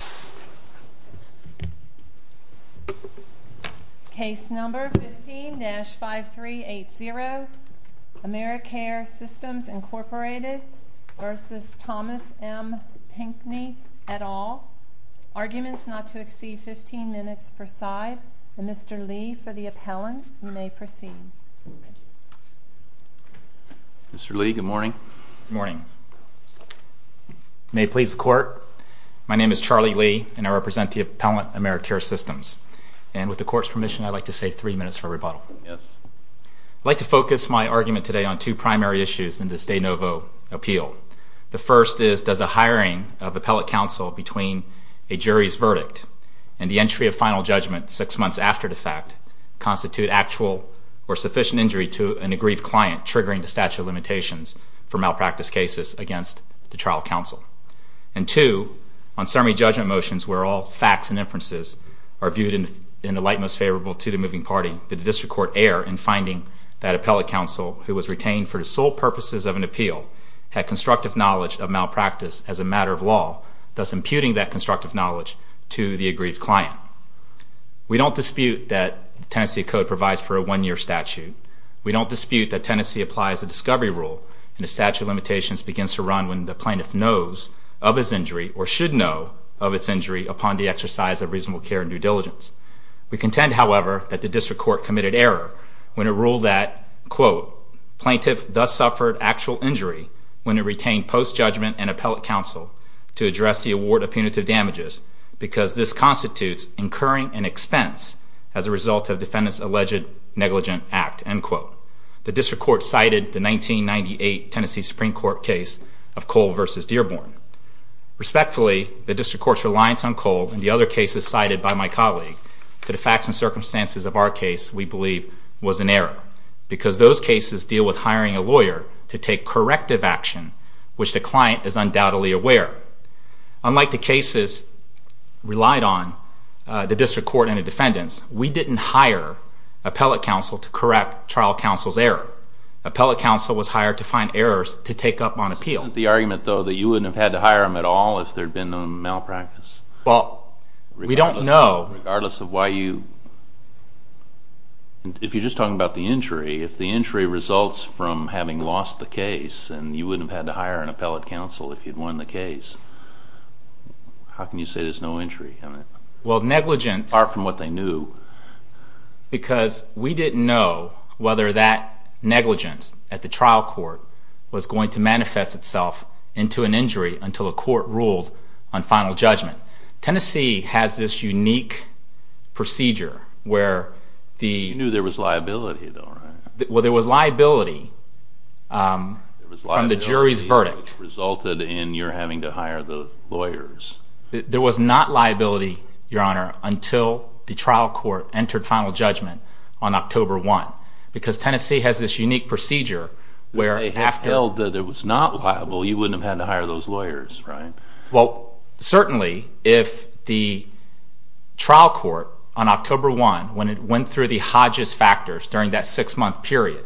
v. Thomas M. Pinckney, et al. Arguments not to exceed 15 minutes per side. Mr. Lee, for the appellant, you may proceed. Mr. Lee, good morning. Good morning. May it please the Court, My name is Charlie Lee, and I represent the Appellant Americare Systems. And with the Court's permission, I'd like to save three minutes for rebuttal. I'd like to focus my argument today on two primary issues in this de novo appeal. The first is, does the hiring of appellate counsel between a jury's verdict and the entry of final judgment six months after the fact constitute actual or sufficient injury to an aggrieved client triggering the statute of limitations for malpractice cases against the trial counsel? And two, on summary judgment motions where all facts and inferences are viewed in the light most favorable to the moving party, did the District Court err in finding that appellate counsel who was retained for the sole purposes of an appeal had constructive knowledge of malpractice as a matter of law, thus imputing that constructive knowledge to the aggrieved client? We don't dispute that Tennessee Code provides for a one-year statute. We don't dispute that Tennessee applies a statute of limitations begins to run when the plaintiff knows of his injury or should know of its injury upon the exercise of reasonable care and due diligence. We contend, however, that the District Court committed error when it ruled that, quote, plaintiff thus suffered actual injury when it retained post-judgment and appellate counsel to address the award of punitive damages because this constitutes incurring an expense as a result of defendant's alleged negligent act, end quote. The District Court cited the Tennessee Supreme Court case of Cole v. Dearborn. Respectfully, the District Court's reliance on Cole and the other cases cited by my colleague to the facts and circumstances of our case we believe was an error because those cases deal with hiring a lawyer to take corrective action, which the client is undoubtedly aware. Unlike the cases relied on, the District Court and the defendants, we didn't hire appellate counsel to correct trial counsel's error. Appellate counsel was hired to find errors to take up on appeal. This isn't the argument, though, that you wouldn't have had to hire him at all if there had been a malpractice? Well, we don't know. Regardless of why you...if you're just talking about the injury, if the injury results from having lost the case and you wouldn't have had to hire an appellate counsel if you'd won the case, how can you say there's no injury in it? Well, negligence... Far from what they knew. Because we didn't know whether that negligence at the trial court was going to manifest itself into an injury until a court ruled on final judgment. Tennessee has this unique procedure where the... You knew there was liability, though, right? Well, there was liability from the jury's verdict. There was liability that resulted in your having to hire the lawyers. There was not liability, Your Honor, until the trial court entered final judgment on October 1 because Tennessee has this unique procedure where... If they held that it was not liable, you wouldn't have had to hire those lawyers, right? Well, certainly if the trial court on October 1, when it went through the Hodges factors during that six-month period,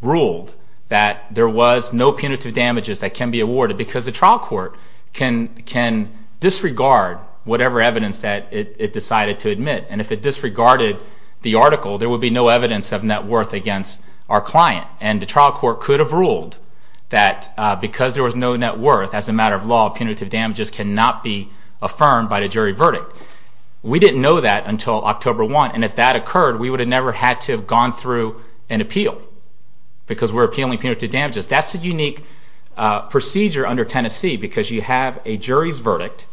ruled that there was no punitive damages that can be awarded because the trial court can disregard whatever evidence that it decided to admit. And if it disregarded the article, there would be no evidence of net worth against our client. And the trial court could have ruled that because there was no net worth, as a matter of law, punitive damages cannot be affirmed by the jury verdict. We didn't know that until October 1. And if that occurred, we would have never had to have gone through an appeal because we're appealing punitive damages. That's a unique procedure under Tennessee because you have a jury's verdict.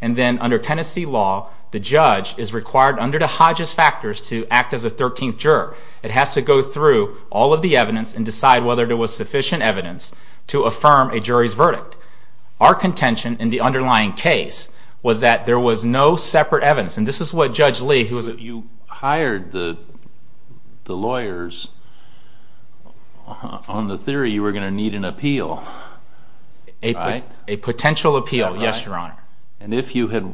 And then under Tennessee law, the judge is required under the Hodges factors to act as a 13th juror. It has to go through all of the evidence and decide whether there was sufficient evidence to affirm a jury's verdict. Our contention in the underlying case was that there was no separate evidence. And this is what Judge Lee, who was a- You hired the lawyers on the theory you were going to need an appeal, right? A potential appeal, yes, Your Honor. And if you had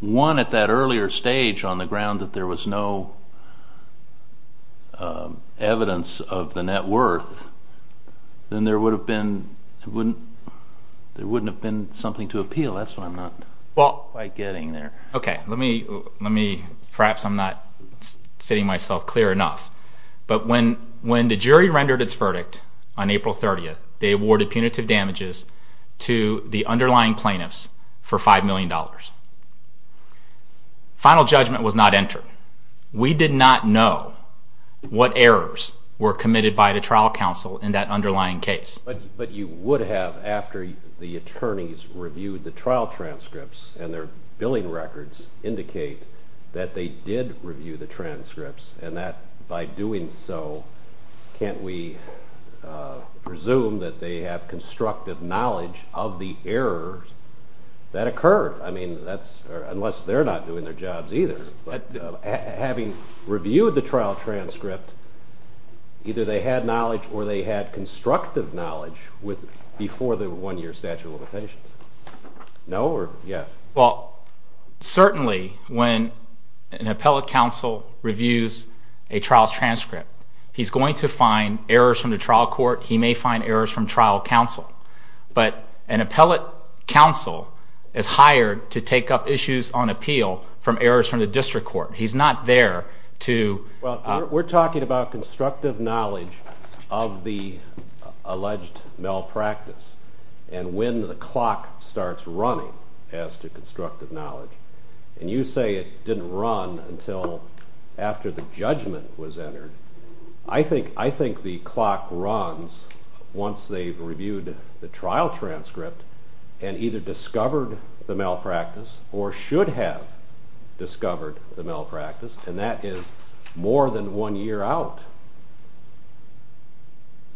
won at that earlier stage on the ground that there was no evidence of the net worth, then there wouldn't have been something to appeal. That's what I'm not quite getting there. Okay. Perhaps I'm not stating myself clear enough. But when the jury rendered its verdict on April 30th, they awarded punitive damages to the underlying plaintiffs for $5 million. Final judgment was not entered. We did not know what errors were committed by the trial counsel in that underlying case. But you would have, after the attorneys reviewed the trial transcripts and their billing records, indicate that they did review the transcripts and that by doing so, can't we presume that they have constructive knowledge of the errors that occurred? I mean, unless they're not doing their jobs either. But having reviewed the trial transcript, either they had knowledge or they had constructive knowledge before the one-year statute of limitations. No or yes? Well, certainly when an appellate counsel reviews a trial transcript, he's going to find errors from the trial court. He may find errors from trial counsel. But an appellate counsel is hired to take up issues on appeal from errors from the district court. He's not there to... Well, we're talking about constructive knowledge of the alleged malpractice and when the clock starts running as to constructive knowledge. And you say it didn't run until after the judgment was entered. I think the clock runs once they've reviewed the trial transcript and either discovered the malpractice or should have discovered the malpractice, and that is more than one year out.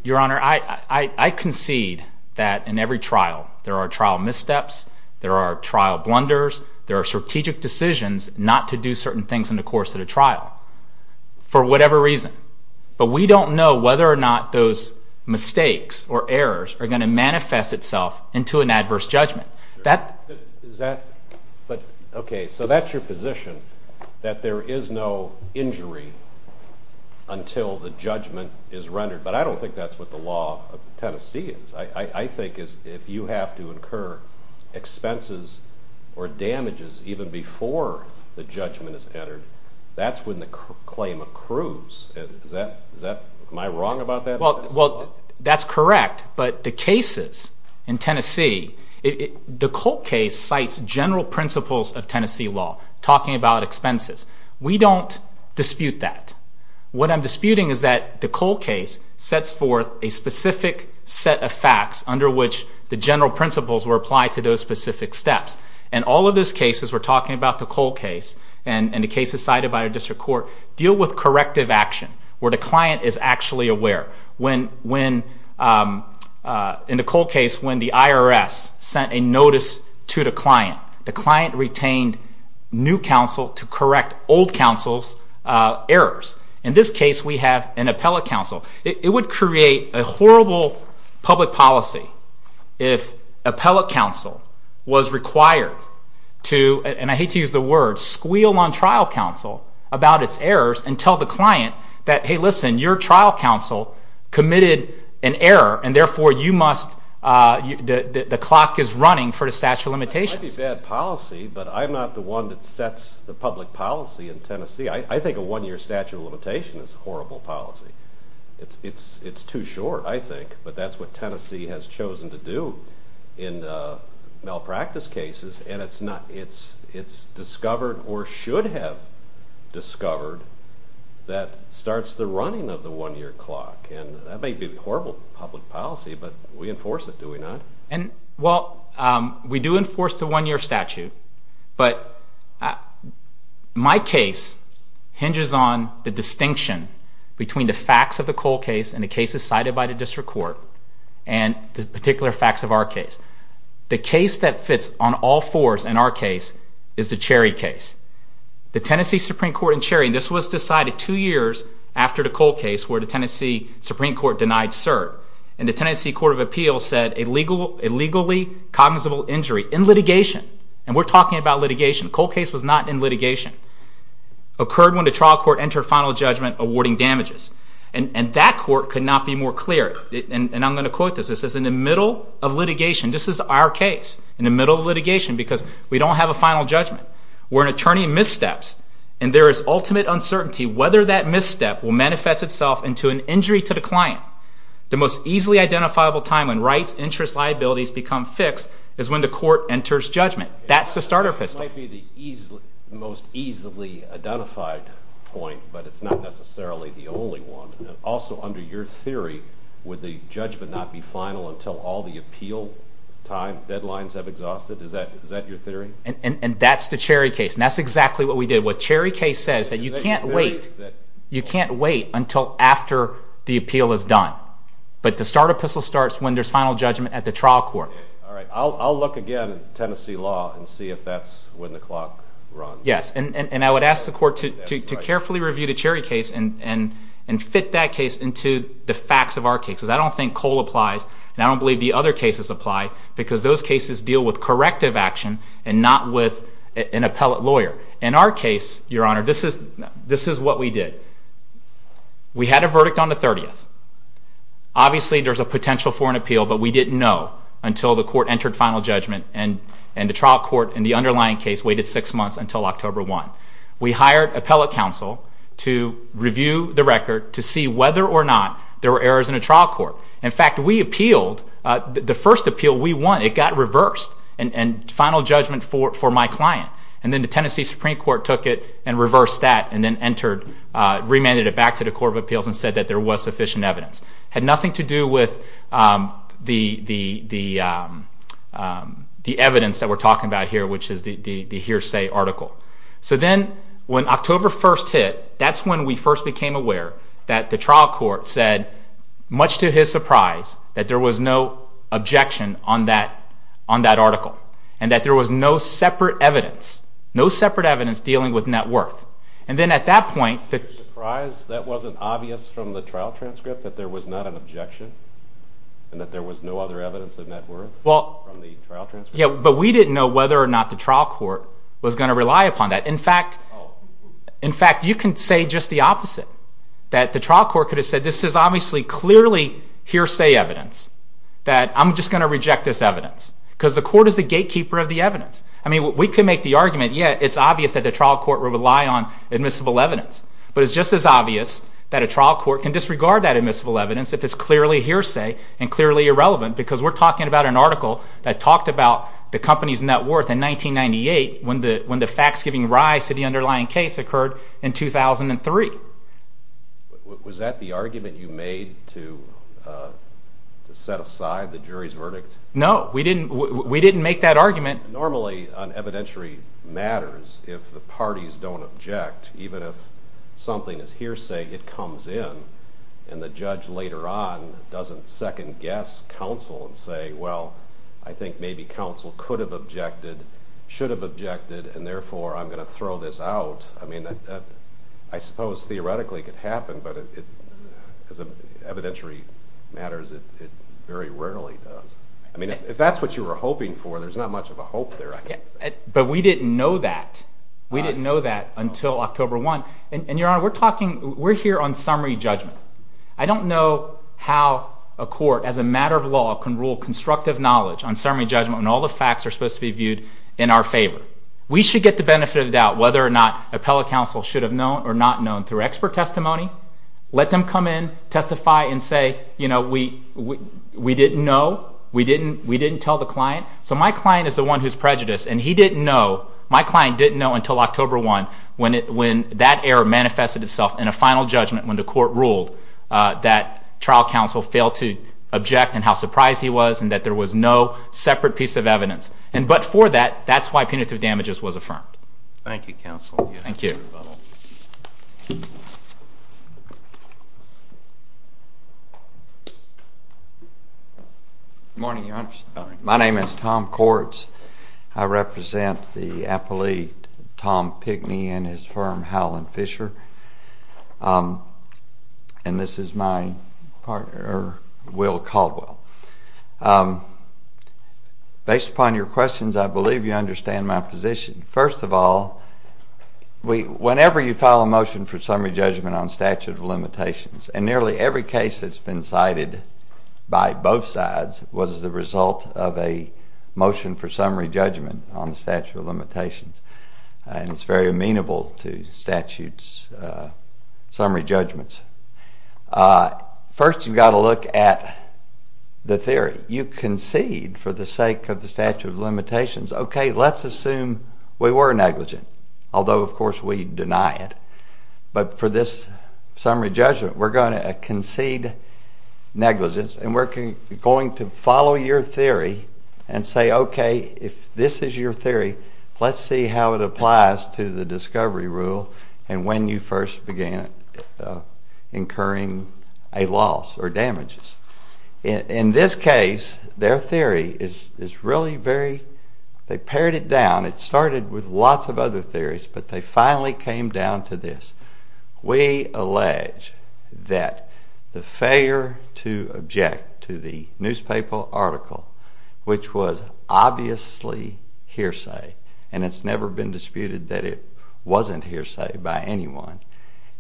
Your Honor, I concede that in every trial there are trial missteps, there are trial blunders, there are strategic decisions not to do certain things in the course of the trial. For whatever reason. But we don't know whether or not those mistakes or errors are going to manifest itself into an adverse judgment. Is that... Okay, so that's your position, that there is no injury until the judgment is rendered. But I don't think that's what the law of Tennessee is. I think if you have to incur expenses or damages even before the judgment is entered, that's when the claim accrues. Am I wrong about that? Well, that's correct. But the cases in Tennessee, the Colt case cites general principles of Tennessee law, talking about expenses. We don't dispute that. What I'm disputing is that the Colt case sets forth a specific set of facts under which the general principles were applied to those specific steps. And all of those cases, we're talking about the Colt case and the cases cited by the district court, deal with corrective action where the client is actually aware. In the Colt case when the IRS sent a notice to the client, the client retained new counsel to correct old counsel's errors. In this case we have an appellate counsel. It would create a horrible public policy if appellate counsel was required to, and I hate to use the word, squeal on trial counsel about its errors and tell the client that, hey, listen, your trial counsel committed an error, and therefore the clock is running for the statute of limitations. That might be bad policy, but I'm not the one that sets the public policy in Tennessee. I think a one-year statute of limitation is a horrible policy. It's too short, I think, but that's what Tennessee has chosen to do in malpractice cases, and it's discovered or should have discovered that starts the running of the one-year clock, and that may be horrible public policy, but we enforce it, do we not? Well, we do enforce the one-year statute, but my case hinges on the distinction between the facts of the Cole case and the cases cited by the district court and the particular facts of our case. The case that fits on all fours in our case is the Cherry case. The Tennessee Supreme Court in Cherry, and this was decided two years after the Cole case where the Tennessee Supreme Court denied cert, and the Tennessee Court of Appeals said a legally cognizable injury in litigation, and we're talking about litigation. The Cole case was not in litigation. It occurred when the trial court entered final judgment awarding damages, and that court could not be more clear, and I'm going to quote this. It says, in the middle of litigation, this is our case, in the middle of litigation because we don't have a final judgment, where an attorney missteps and there is ultimate uncertainty whether that misstep will manifest itself into an injury to the client. The most easily identifiable time when rights, interests, liabilities become fixed is when the court enters judgment. That's the starter pistol. It might be the most easily identified point, but it's not necessarily the only one. Also, under your theory, would the judgment not be final until all the appeal time, deadlines have exhausted? Is that your theory? And that's the Cherry case, and that's exactly what we did. What Cherry case says is that you can't wait until after the appeal is done, but the starter pistol starts when there's final judgment at the trial court. All right. I'll look again at Tennessee law and see if that's when the clock runs. Yes, and I would ask the court to carefully review the Cherry case and fit that case into the facts of our cases. I don't think Cole applies, and I don't believe the other cases apply because those cases deal with corrective action and not with an appellate lawyer. In our case, Your Honor, this is what we did. We had a verdict on the 30th. Obviously, there's a potential for an appeal, but we didn't know until the court entered final judgment and the trial court in the underlying case waited six months until October 1. We hired appellate counsel to review the record to see whether or not there were errors in the trial court. In fact, we appealed. The first appeal we won, it got reversed and final judgment for my client, and then the Tennessee Supreme Court took it and reversed that and then remanded it back to the Court of Appeals and said that there was sufficient evidence. It had nothing to do with the evidence that we're talking about here, which is the hearsay article. So then when October 1 hit, that's when we first became aware that the trial court said, much to his surprise, that there was no objection on that article and that there was no separate evidence dealing with net worth. And then at that point... You're surprised that wasn't obvious from the trial transcript, that there was not an objection and that there was no other evidence of net worth from the trial transcript? Yeah, but we didn't know whether or not the trial court was going to rely upon that. In fact, you can say just the opposite, that the trial court could have said, this is obviously clearly hearsay evidence, that I'm just going to reject this evidence because the court is the gatekeeper of the evidence. I mean, we could make the argument, yeah, it's obvious that the trial court would rely on admissible evidence, but it's just as obvious that a trial court can disregard that admissible evidence if it's clearly hearsay and clearly irrelevant because we're talking about an article that talked about the company's net worth in 1998 when the facts giving rise to the underlying case occurred in 2003. Was that the argument you made to set aside the jury's verdict? No, we didn't make that argument. Normally an evidentiary matters if the parties don't object, even if something is hearsay, it comes in, and the judge later on doesn't second-guess counsel and say, well, I think maybe counsel could have objected, should have objected, and therefore I'm going to throw this out. I mean, I suppose theoretically it could happen, but as an evidentiary matters, it very rarely does. I mean, if that's what you were hoping for, there's not much of a hope there, I think. But we didn't know that. We didn't know that until October 1. And, Your Honor, we're here on summary judgment. I don't know how a court, as a matter of law, can rule constructive knowledge on summary judgment when all the facts are supposed to be viewed in our favor. We should get the benefit of the doubt whether or not appellate counsel should have known or not known through expert testimony, let them come in, testify, and say, you know, we didn't know, we didn't tell the client. So my client is the one who's prejudiced, and he didn't know, my client didn't know until October 1 when that error manifested itself in a final judgment when the court ruled that trial counsel failed to object and how surprised he was and that there was no separate piece of evidence. But for that, that's why punitive damages was affirmed. Thank you. Good morning, Your Honor. My name is Tom Quartz. I represent the appellee, Tom Pickney, and his firm, Howland Fisher. And this is my partner, Will Caldwell. Based upon your questions, I believe you understand my position. First of all, whenever you file a motion for summary judgment on statute of limitations, and nearly every case that's been cited by both sides was the result of a motion for summary judgment on the statute of limitations, and it's very amenable to statute's summary judgments. First, you've got to look at the theory. You concede for the sake of the statute of limitations. OK, let's assume we were negligent, although, of course, we deny it. But for this summary judgment, we're going to concede negligence, and we're going to follow your theory and say, OK, if this is your theory, let's see how it applies to the discovery rule and when you first began incurring a loss or damages. In this case, their theory is really very... They pared it down. It started with lots of other theories, but they finally came down to this. We allege that the failure to object to the newspaper article, which was obviously hearsay, and it's never been disputed that it wasn't hearsay by anyone,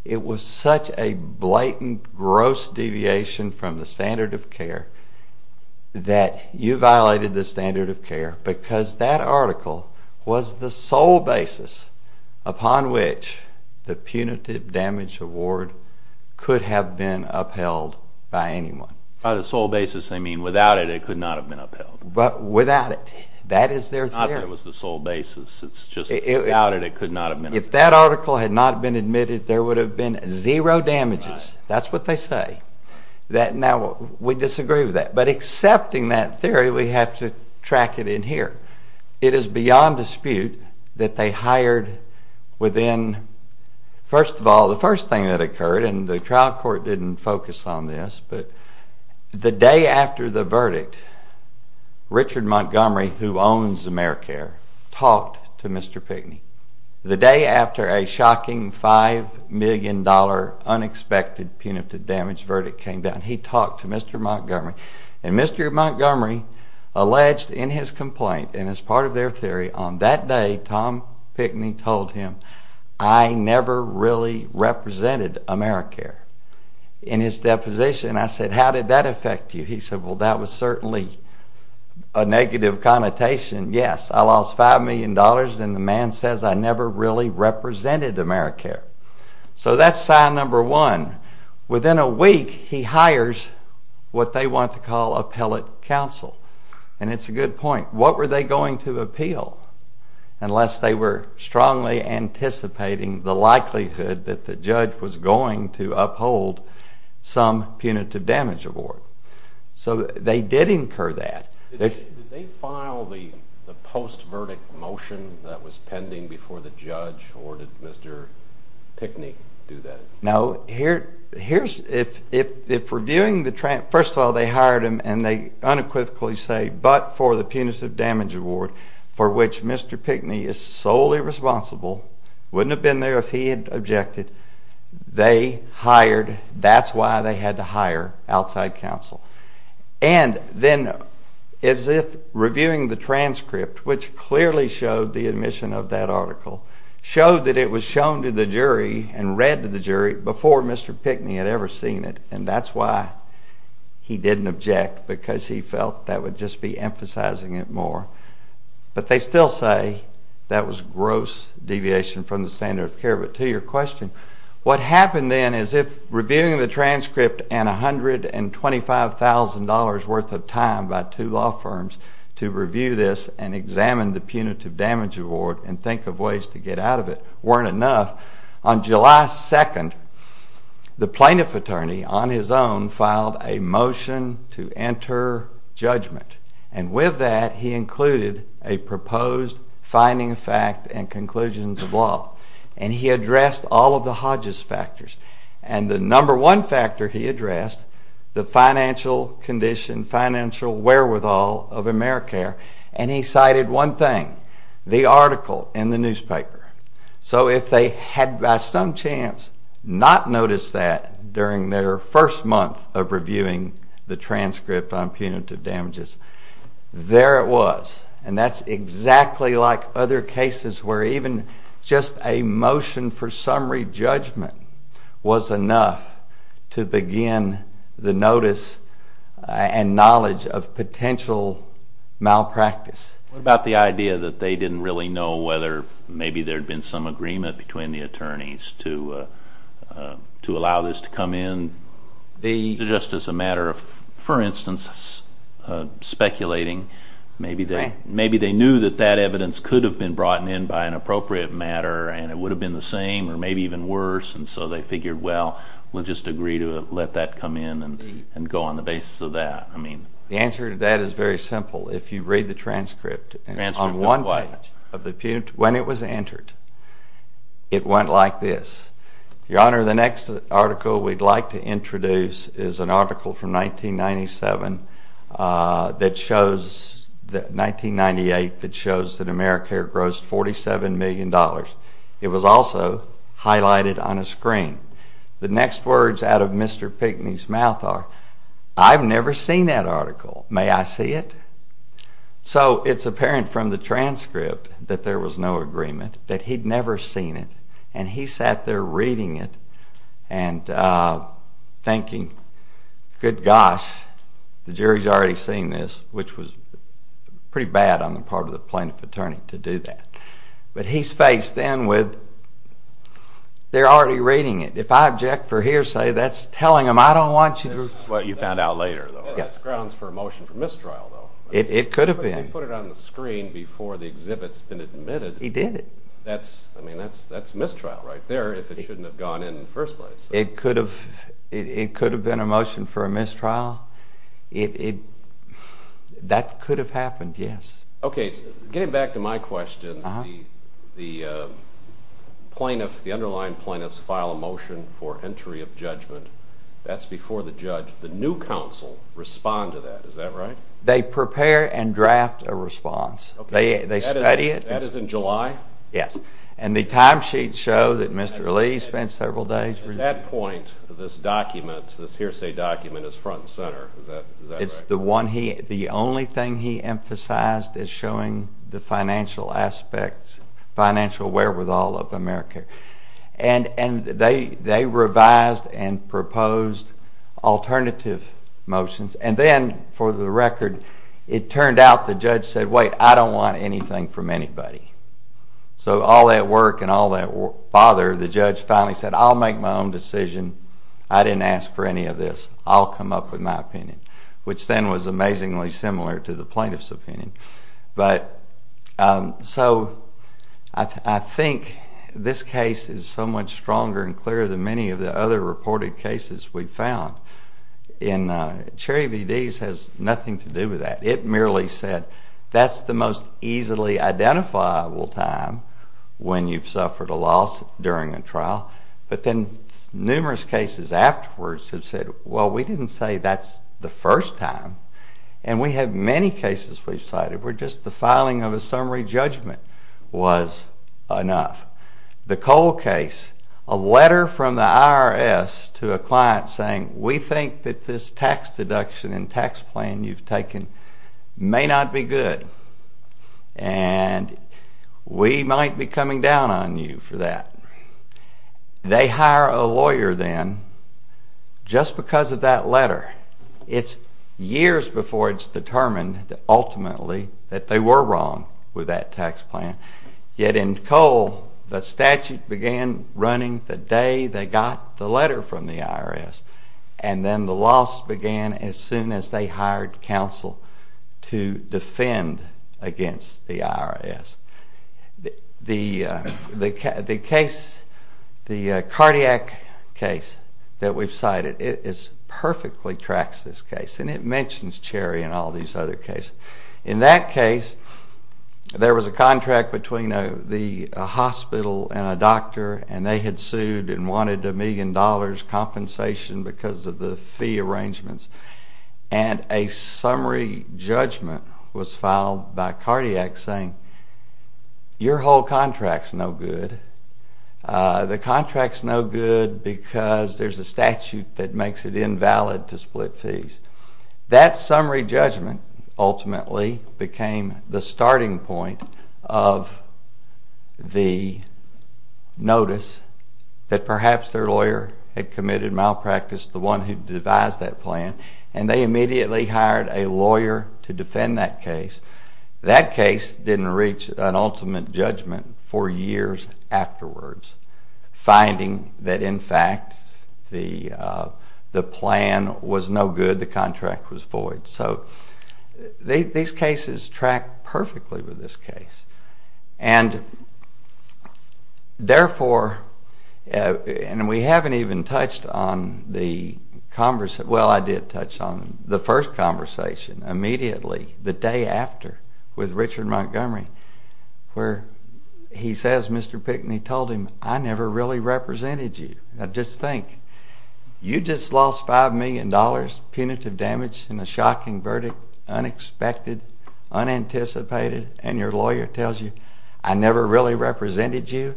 it was such a blatant, gross deviation from the standard of care that you violated the standard of care because that article was the sole basis upon which the punitive damage award could have been upheld by anyone. By the sole basis, they mean without it, it could not have been upheld. Without it. That is their theory. It's not that it was the sole basis. It's just without it, it could not have been upheld. If that article had not been admitted, there would have been zero damages. That's what they say. Now, we disagree with that, but accepting that theory, we have to track it in here. It is beyond dispute that they hired within... First of all, the first thing that occurred, and the trial court didn't focus on this, but the day after the verdict, Richard Montgomery, who owns AmeriCare, talked to Mr. Pinckney. The day after a shocking $5 million unexpected punitive damage verdict came down, he talked to Mr. Montgomery, and Mr. Montgomery alleged in his complaint, and as part of their theory, on that day, Tom Pinckney told him, I never really represented AmeriCare. In his deposition, I said, How did that affect you? He said, Well, that was certainly a negative connotation. Yes, I lost $5 million, and the man says I never really represented AmeriCare. So that's sign number one. Within a week, he hires what they want to call appellate counsel, and it's a good point. What were they going to appeal unless they were strongly anticipating the likelihood that the judge was going to uphold some punitive damage award? So they did incur that. Did they file the post-verdict motion that was pending before the judge, or did Mr. Pinckney do that? No. First of all, they hired him, and they unequivocally say, but for the punitive damage award, for which Mr. Pinckney is solely responsible, wouldn't have been there if he had objected. They hired. That's why they had to hire outside counsel. which clearly showed the admission of that article, showed that it was shown to the jury and read to the jury before Mr. Pinckney had ever seen it, and that's why he didn't object, because he felt that would just be emphasizing it more. But they still say that was gross deviation from the standard of care. But to your question, what happened then is if reviewing the transcript and $125,000 worth of time by two law firms to review this and examine the punitive damage award and think of ways to get out of it weren't enough, on July 2nd, the plaintiff attorney, on his own, filed a motion to enter judgment. And with that, he included a proposed finding of fact and conclusions of law. And he addressed all of the Hodges factors. And the number one factor he addressed, the financial condition, financial wherewithal of AmeriCare. And he cited one thing. The article in the newspaper. So if they had by some chance not noticed that during their first month of reviewing the transcript on punitive damages, there it was. And that's exactly like other cases where even just a motion for summary judgment was enough to begin the notice and knowledge of potential malpractice. What about the idea that they didn't really know whether maybe there had been some agreement between the attorneys to allow this to come in? Just as a matter of, for instance, speculating. Maybe they knew that that evidence could have been brought in by an appropriate matter and it would have been the same or maybe even worse. And so they figured, well, we'll just agree to let that come in and go on the basis of that. The answer to that is very simple. If you read the transcript on one page, when it was entered, it went like this. Your Honor, the next article we'd like to introduce is an article from 1997 that shows, 1998, that shows that AmeriCare grossed $47 million. It was also highlighted on a screen. The next words out of Mr. Pinckney's mouth are, I've never seen that article. May I see it? So it's apparent from the transcript that there was no agreement, that he'd never seen it. And he sat there reading it and thinking, good gosh, the jury's already seen this, which was pretty bad on the part of the plaintiff attorney to do that. But he's faced then with, they're already reading it. If I object for hearsay, that's telling them this is what you found out later. That's grounds for a motion for mistrial, though. It could have been. They put it on the screen before the exhibit's been admitted. He did it. I mean, that's mistrial right there if it shouldn't have gone in in the first place. It could have been a motion for a mistrial. That could have happened, yes. OK, getting back to my question, the underlying plaintiffs file a motion for entry of judgment. That's before the judge. The new counsel respond to that. Is that right? They prepare and draft a response. They study it. That is in July? Yes. And the timesheets show that Mr. Lee spent several days reading it. At that point, this document, this hearsay document, is front and center. Is that right? It's the one he, the only thing he emphasized is showing the financial aspects, financial wherewithal of America. And they revised and proposed alternative motions. And then, for the record, it turned out the judge said, wait, I don't want anything from anybody. So all that work and all that bother, the judge finally said, I'll make my own decision. I didn't ask for any of this. I'll come up with my opinion, which then was amazingly similar to the plaintiff's opinion. But so I think this case is so much stronger and clearer than many of the other reported cases we've found. And Cherry VDs has nothing to do with that. It merely said, that's the most easily identifiable time when you've suffered a loss during a trial. But then numerous cases afterwards have said, well, we didn't say that's the first time. And we have many cases we've cited where just the filing of a summary judgment was enough. The Cole case, a letter from the IRS to a client saying, we think that this tax deduction and tax plan you've taken may not be good. And we might be coming down on you for that. They hire a lawyer then just because of that letter. It's years before it's determined ultimately that they were wrong with that tax plan. Yet in Cole, the statute began running the day they got the letter from the IRS. And then the loss began as soon as they hired counsel to defend against the IRS. The cardiac case that we've cited perfectly tracks this case. And it mentions Cherry and all these other cases. In that case, there was a contract between the hospital and a doctor. And they had sued and wanted $1 million compensation because of the fee arrangements. And a summary judgment was filed by cardiac saying, your whole contract's no good. The contract's no good because there's a statute that makes it invalid to split fees. That summary judgment ultimately became the starting point of the notice that perhaps their lawyer had committed malpractice, the one who devised that plan. And they immediately hired a lawyer to defend that case. That case didn't reach an ultimate judgment for years afterwards, finding that in fact the plan was no good. The contract was void. So these cases track perfectly with this case. And therefore, and we haven't even touched on the conversation. Well, I did touch on the first conversation immediately, the day after with Richard Montgomery, where he says Mr. Pickney told him, I never really represented you. Now just think, you just lost $5 million punitive damage in a shocking verdict, unexpected, unanticipated. And your lawyer tells you, I never really represented you.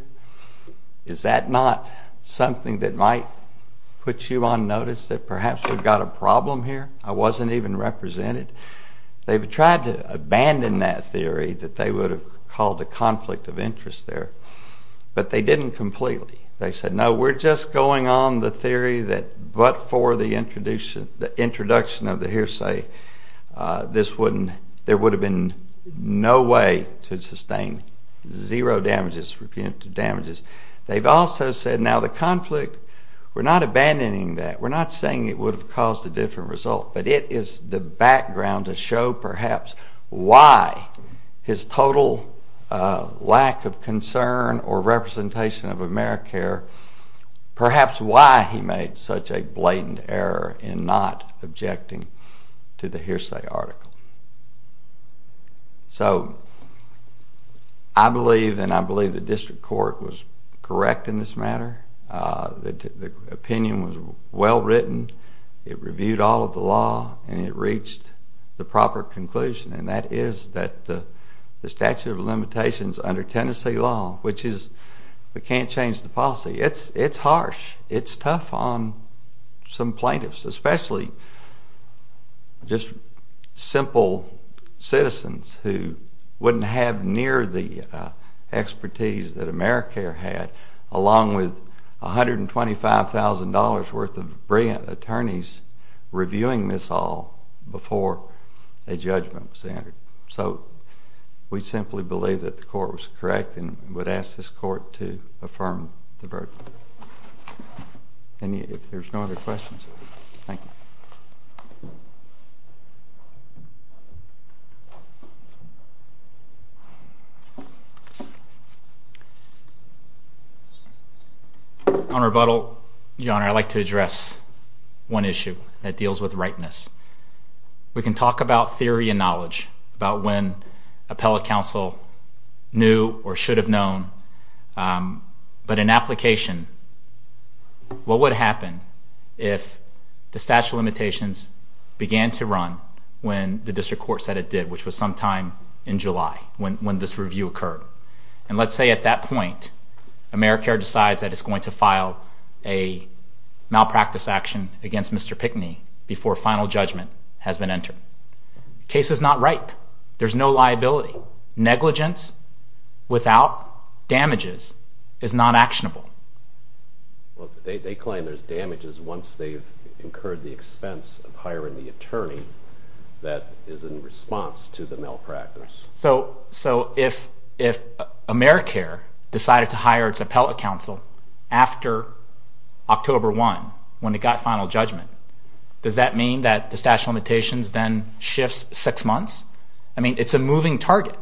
Is that not something that might put you on notice that perhaps we've got a problem here? I wasn't even represented. They've tried to abandon that theory that they would have called a conflict of interest there. But they didn't completely. They said, no, we're just going on the theory that but for the introduction of the hearsay, this wouldn't, there would have been no way to sustain zero damages, punitive damages. They've also said, now the conflict, we're not abandoning that. We're not saying it would have caused a different result. But it is the background to show perhaps why his total lack of concern or representation of AmeriCare, perhaps why he made such a blatant error in not objecting to the hearsay article. So I believe, and I believe the district court was correct in this matter. The opinion was well written. It reviewed all of the law. And it reached the proper conclusion. And that is that the statute of limitations under Tennessee law, which is we can't change the policy. It's harsh. It's tough on some plaintiffs, especially just simple citizens who wouldn't have near the expertise that AmeriCare had, along with $125,000 worth of brilliant attorneys reviewing this all before a judgment was entered. So we simply believe that the court was correct and would ask this court to affirm the verdict. And if there's no other questions, thank you. Thank you. Your Honor, I'd like to address one issue that deals with rightness. We can talk about theory and knowledge, about when appellate counsel knew or should have known. But in application, what would happen if the statute of limitations began to run when the district court said it did, which was sometime in July when this review occurred? And let's say at that point, AmeriCare decides that it's going to file a malpractice action against Mr. Pickney before a final judgment has been entered. The case is not ripe. There's no liability. Negligence without damages is not actionable. They claim there's damages once they've incurred the expense of hiring the attorney that is in response to the malpractice. So if AmeriCare decided to hire its appellate counsel after October 1, when it got final judgment, does that mean that the statute of limitations then shifts six months? I mean, it's a moving target.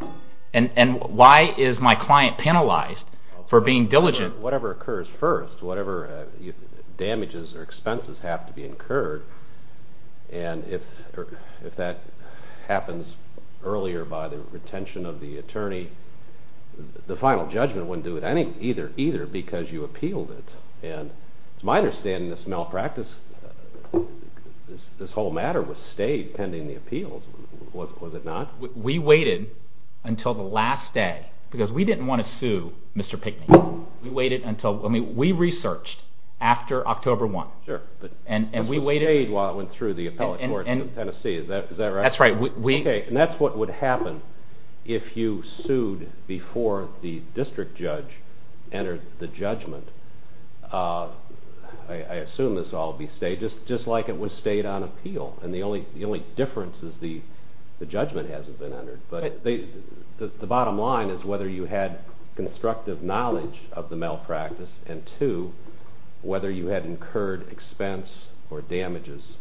And why is my client penalized for being diligent? Whatever occurs first, whatever damages or expenses have to be incurred, and if that happens earlier by the retention of the attorney, the final judgment wouldn't do it either because you appealed it. And to my understanding, this malpractice, this whole matter was stayed pending the appeals. Was it not? We waited until the last day because we didn't want to sue Mr. Pickney. We waited until... I mean, we researched after October 1, and we waited... This was stayed while it went through the appellate courts in Tennessee. Is that right? That's right. Okay, and that's what would happen if you sued before the district judge entered the judgment. I assume this all would be stayed, just like it was stayed on appeal, and the only difference is the judgment hasn't been entered. The bottom line is whether you had constructive knowledge of the malpractice, and two, whether you had incurred expense or damages.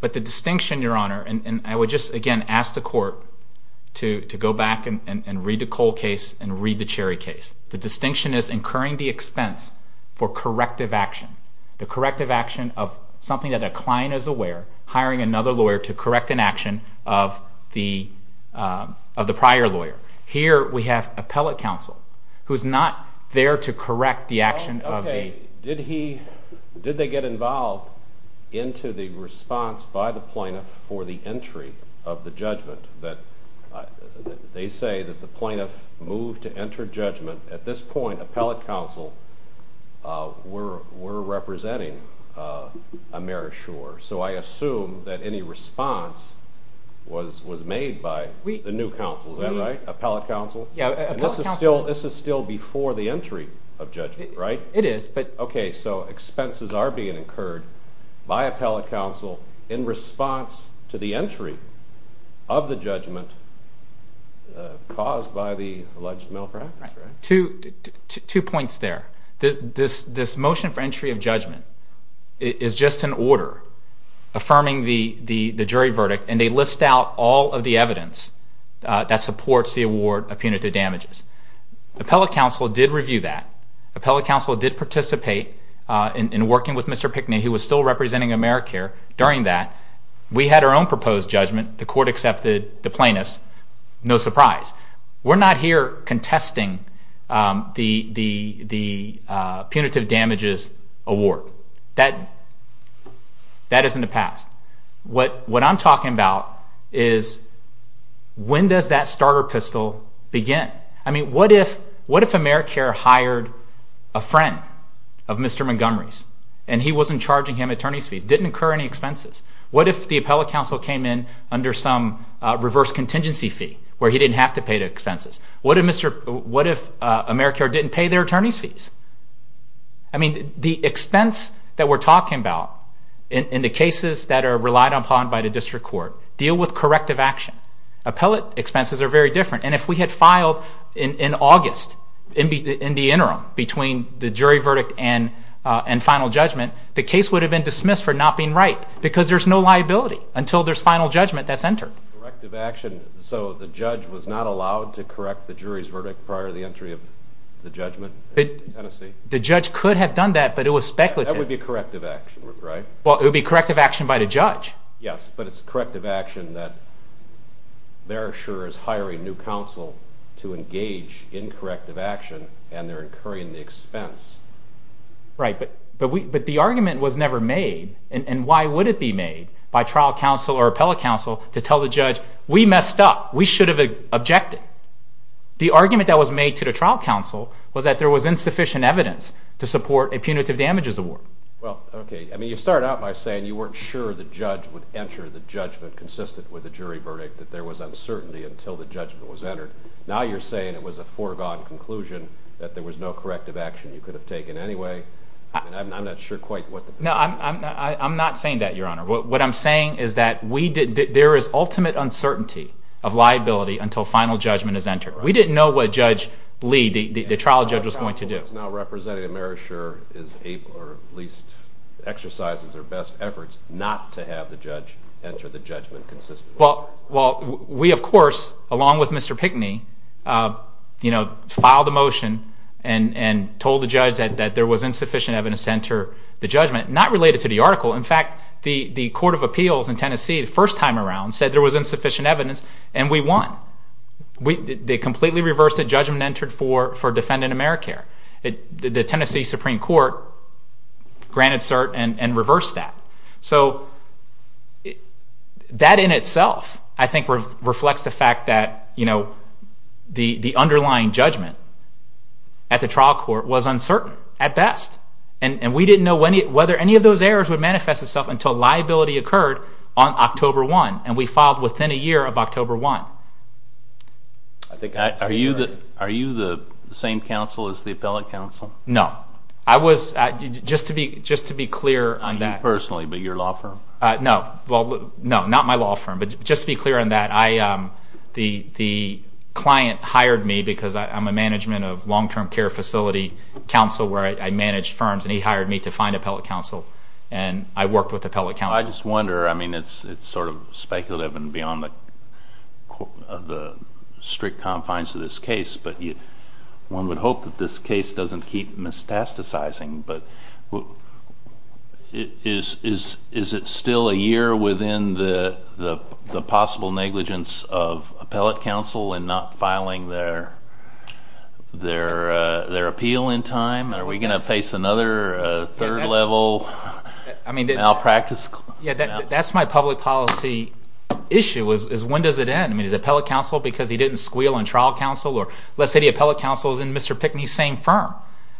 But the distinction, Your Honor, and I would just again ask the court to go back and read the Cole case and read the Cherry case. The distinction is incurring the expense for corrective action, the corrective action of something that a client is aware, hiring another lawyer to correct an action of the prior lawyer. Here we have appellate counsel who's not there to correct the action of the... Okay, did he... Did they get involved into the response by the plaintiff for the entry of the judgment that they say that the plaintiff moved to enter judgment? At this point, appellate counsel were representing Amerishore, so I assume that any response was made by the new counsel. Is that right? Appellate counsel? This is still before the entry of judgment, right? It is, but... Okay, so expenses are being incurred by appellate counsel in response to the entry of the judgment caused by the alleged malpractice, right? Two points there. This motion for entry of judgment is just an order affirming the jury verdict, and they list out all of the evidence that supports the award of punitive damages. Appellate counsel did review that. Appellate counsel did participate in working with Mr. Pickney, who was still representing AmeriCare, during that. We had our own proposed judgment. The court accepted the plaintiff's, no surprise. We're not here contesting the punitive damages award. That is in the past. What I'm talking about is when does that starter pistol begin? I mean, what if AmeriCare hired a friend of Mr. Montgomery's, and he wasn't charging him attorney's fees, didn't incur any expenses? What if the appellate counsel came in under some reverse contingency fee, where he didn't have to pay the expenses? What if AmeriCare didn't pay their attorney's fees? I mean, the expense that we're talking about in the cases that are relied upon by the district court deal with corrective action. Appellate expenses are very different, and if we had filed in August, in the interim, between the jury verdict and final judgment, the case would have been dismissed for not being right, because there's no liability until there's final judgment that's entered. Corrective action. So the judge was not allowed to correct the jury's verdict prior to the entry of the judgment in Tennessee? The judge could have done that, but it was speculative. That would be corrective action, right? Well, it would be corrective action by the judge. Yes, but it's corrective action that Beresher is hiring new counsel to engage in corrective action, and they're incurring the expense. Right, but the argument was never made, and why would it be made by trial counsel or appellate counsel to tell the judge, we messed up, we should have objected? The argument that was made to the trial counsel was that there was insufficient evidence to support a punitive damages award. Well, okay, I mean, you start out by saying you weren't sure the judge would enter the judgment consistent with the jury verdict, that there was uncertainty until the judgment was entered. Now you're saying it was a foregone conclusion that there was no corrective action you could have taken anyway. I mean, I'm not sure quite what the... No, I'm not saying that, Your Honor. What I'm saying is that there is ultimate uncertainty of liability until final judgment is entered. We didn't know what Judge Lee, the trial judge, was going to do. Now representative Beresher is able, or at least exercises her best efforts, not to have the judge enter the judgment consistently. Well, we of course, along with Mr. Pickney, filed a motion and told the judge that there was insufficient evidence to enter the judgment, not related to the article. In fact, the Court of Appeals in Tennessee, the first time around, said there was insufficient evidence, and we won. They completely reversed the judgment entered for defendant Americare. The Tennessee Supreme Court granted cert and reversed that. So that in itself, I think, reflects the fact that, you know, the underlying judgment at the trial court was uncertain, at best. And we didn't know whether any of those errors would manifest itself until liability occurred on October 1, and we filed within a year of October 1. Are you the same counsel as the appellate counsel? No. Just to be clear on that. Not you personally, but your law firm. No, not my law firm. But just to be clear on that, the client hired me because I'm a management of long-term care facility counsel where I manage firms, and he hired me to find appellate counsel, and I worked with appellate counsel. I just wonder, I mean, it's sort of speculative and beyond the strict confines of this case, but one would hope that this case doesn't keep metastasizing, but is it still a year within the possible negligence of appellate counsel in not filing their appeal in time? Are we going to face another third-level malpractice? Yeah, that's my public policy issue is when does it end? I mean, is appellate counsel because he didn't squeal on trial counsel? Or let's say the appellate counsel is in Mr. Pickney's same firm.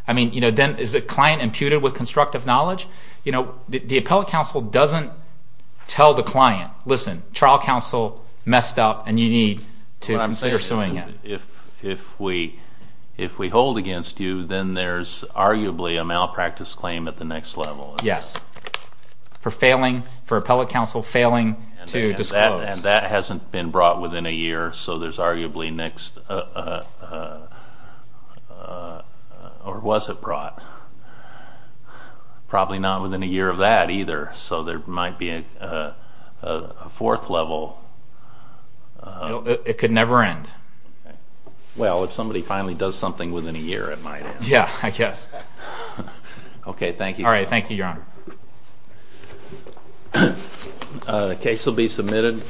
I mean, then is the client imputed with constructive knowledge? No. Listen, trial counsel messed up, and you need to consider suing him. If we hold against you, then there's arguably a malpractice claim at the next level. Yes, for appellate counsel failing to disclose. And that hasn't been brought within a year, so there's arguably next—or was it brought? Probably not within a year of that either, so there might be a fourth level. It could never end. Well, if somebody finally does something within a year, it might end. Yeah, I guess. Okay, thank you. All right, thank you, Your Honor. The case will be submitted.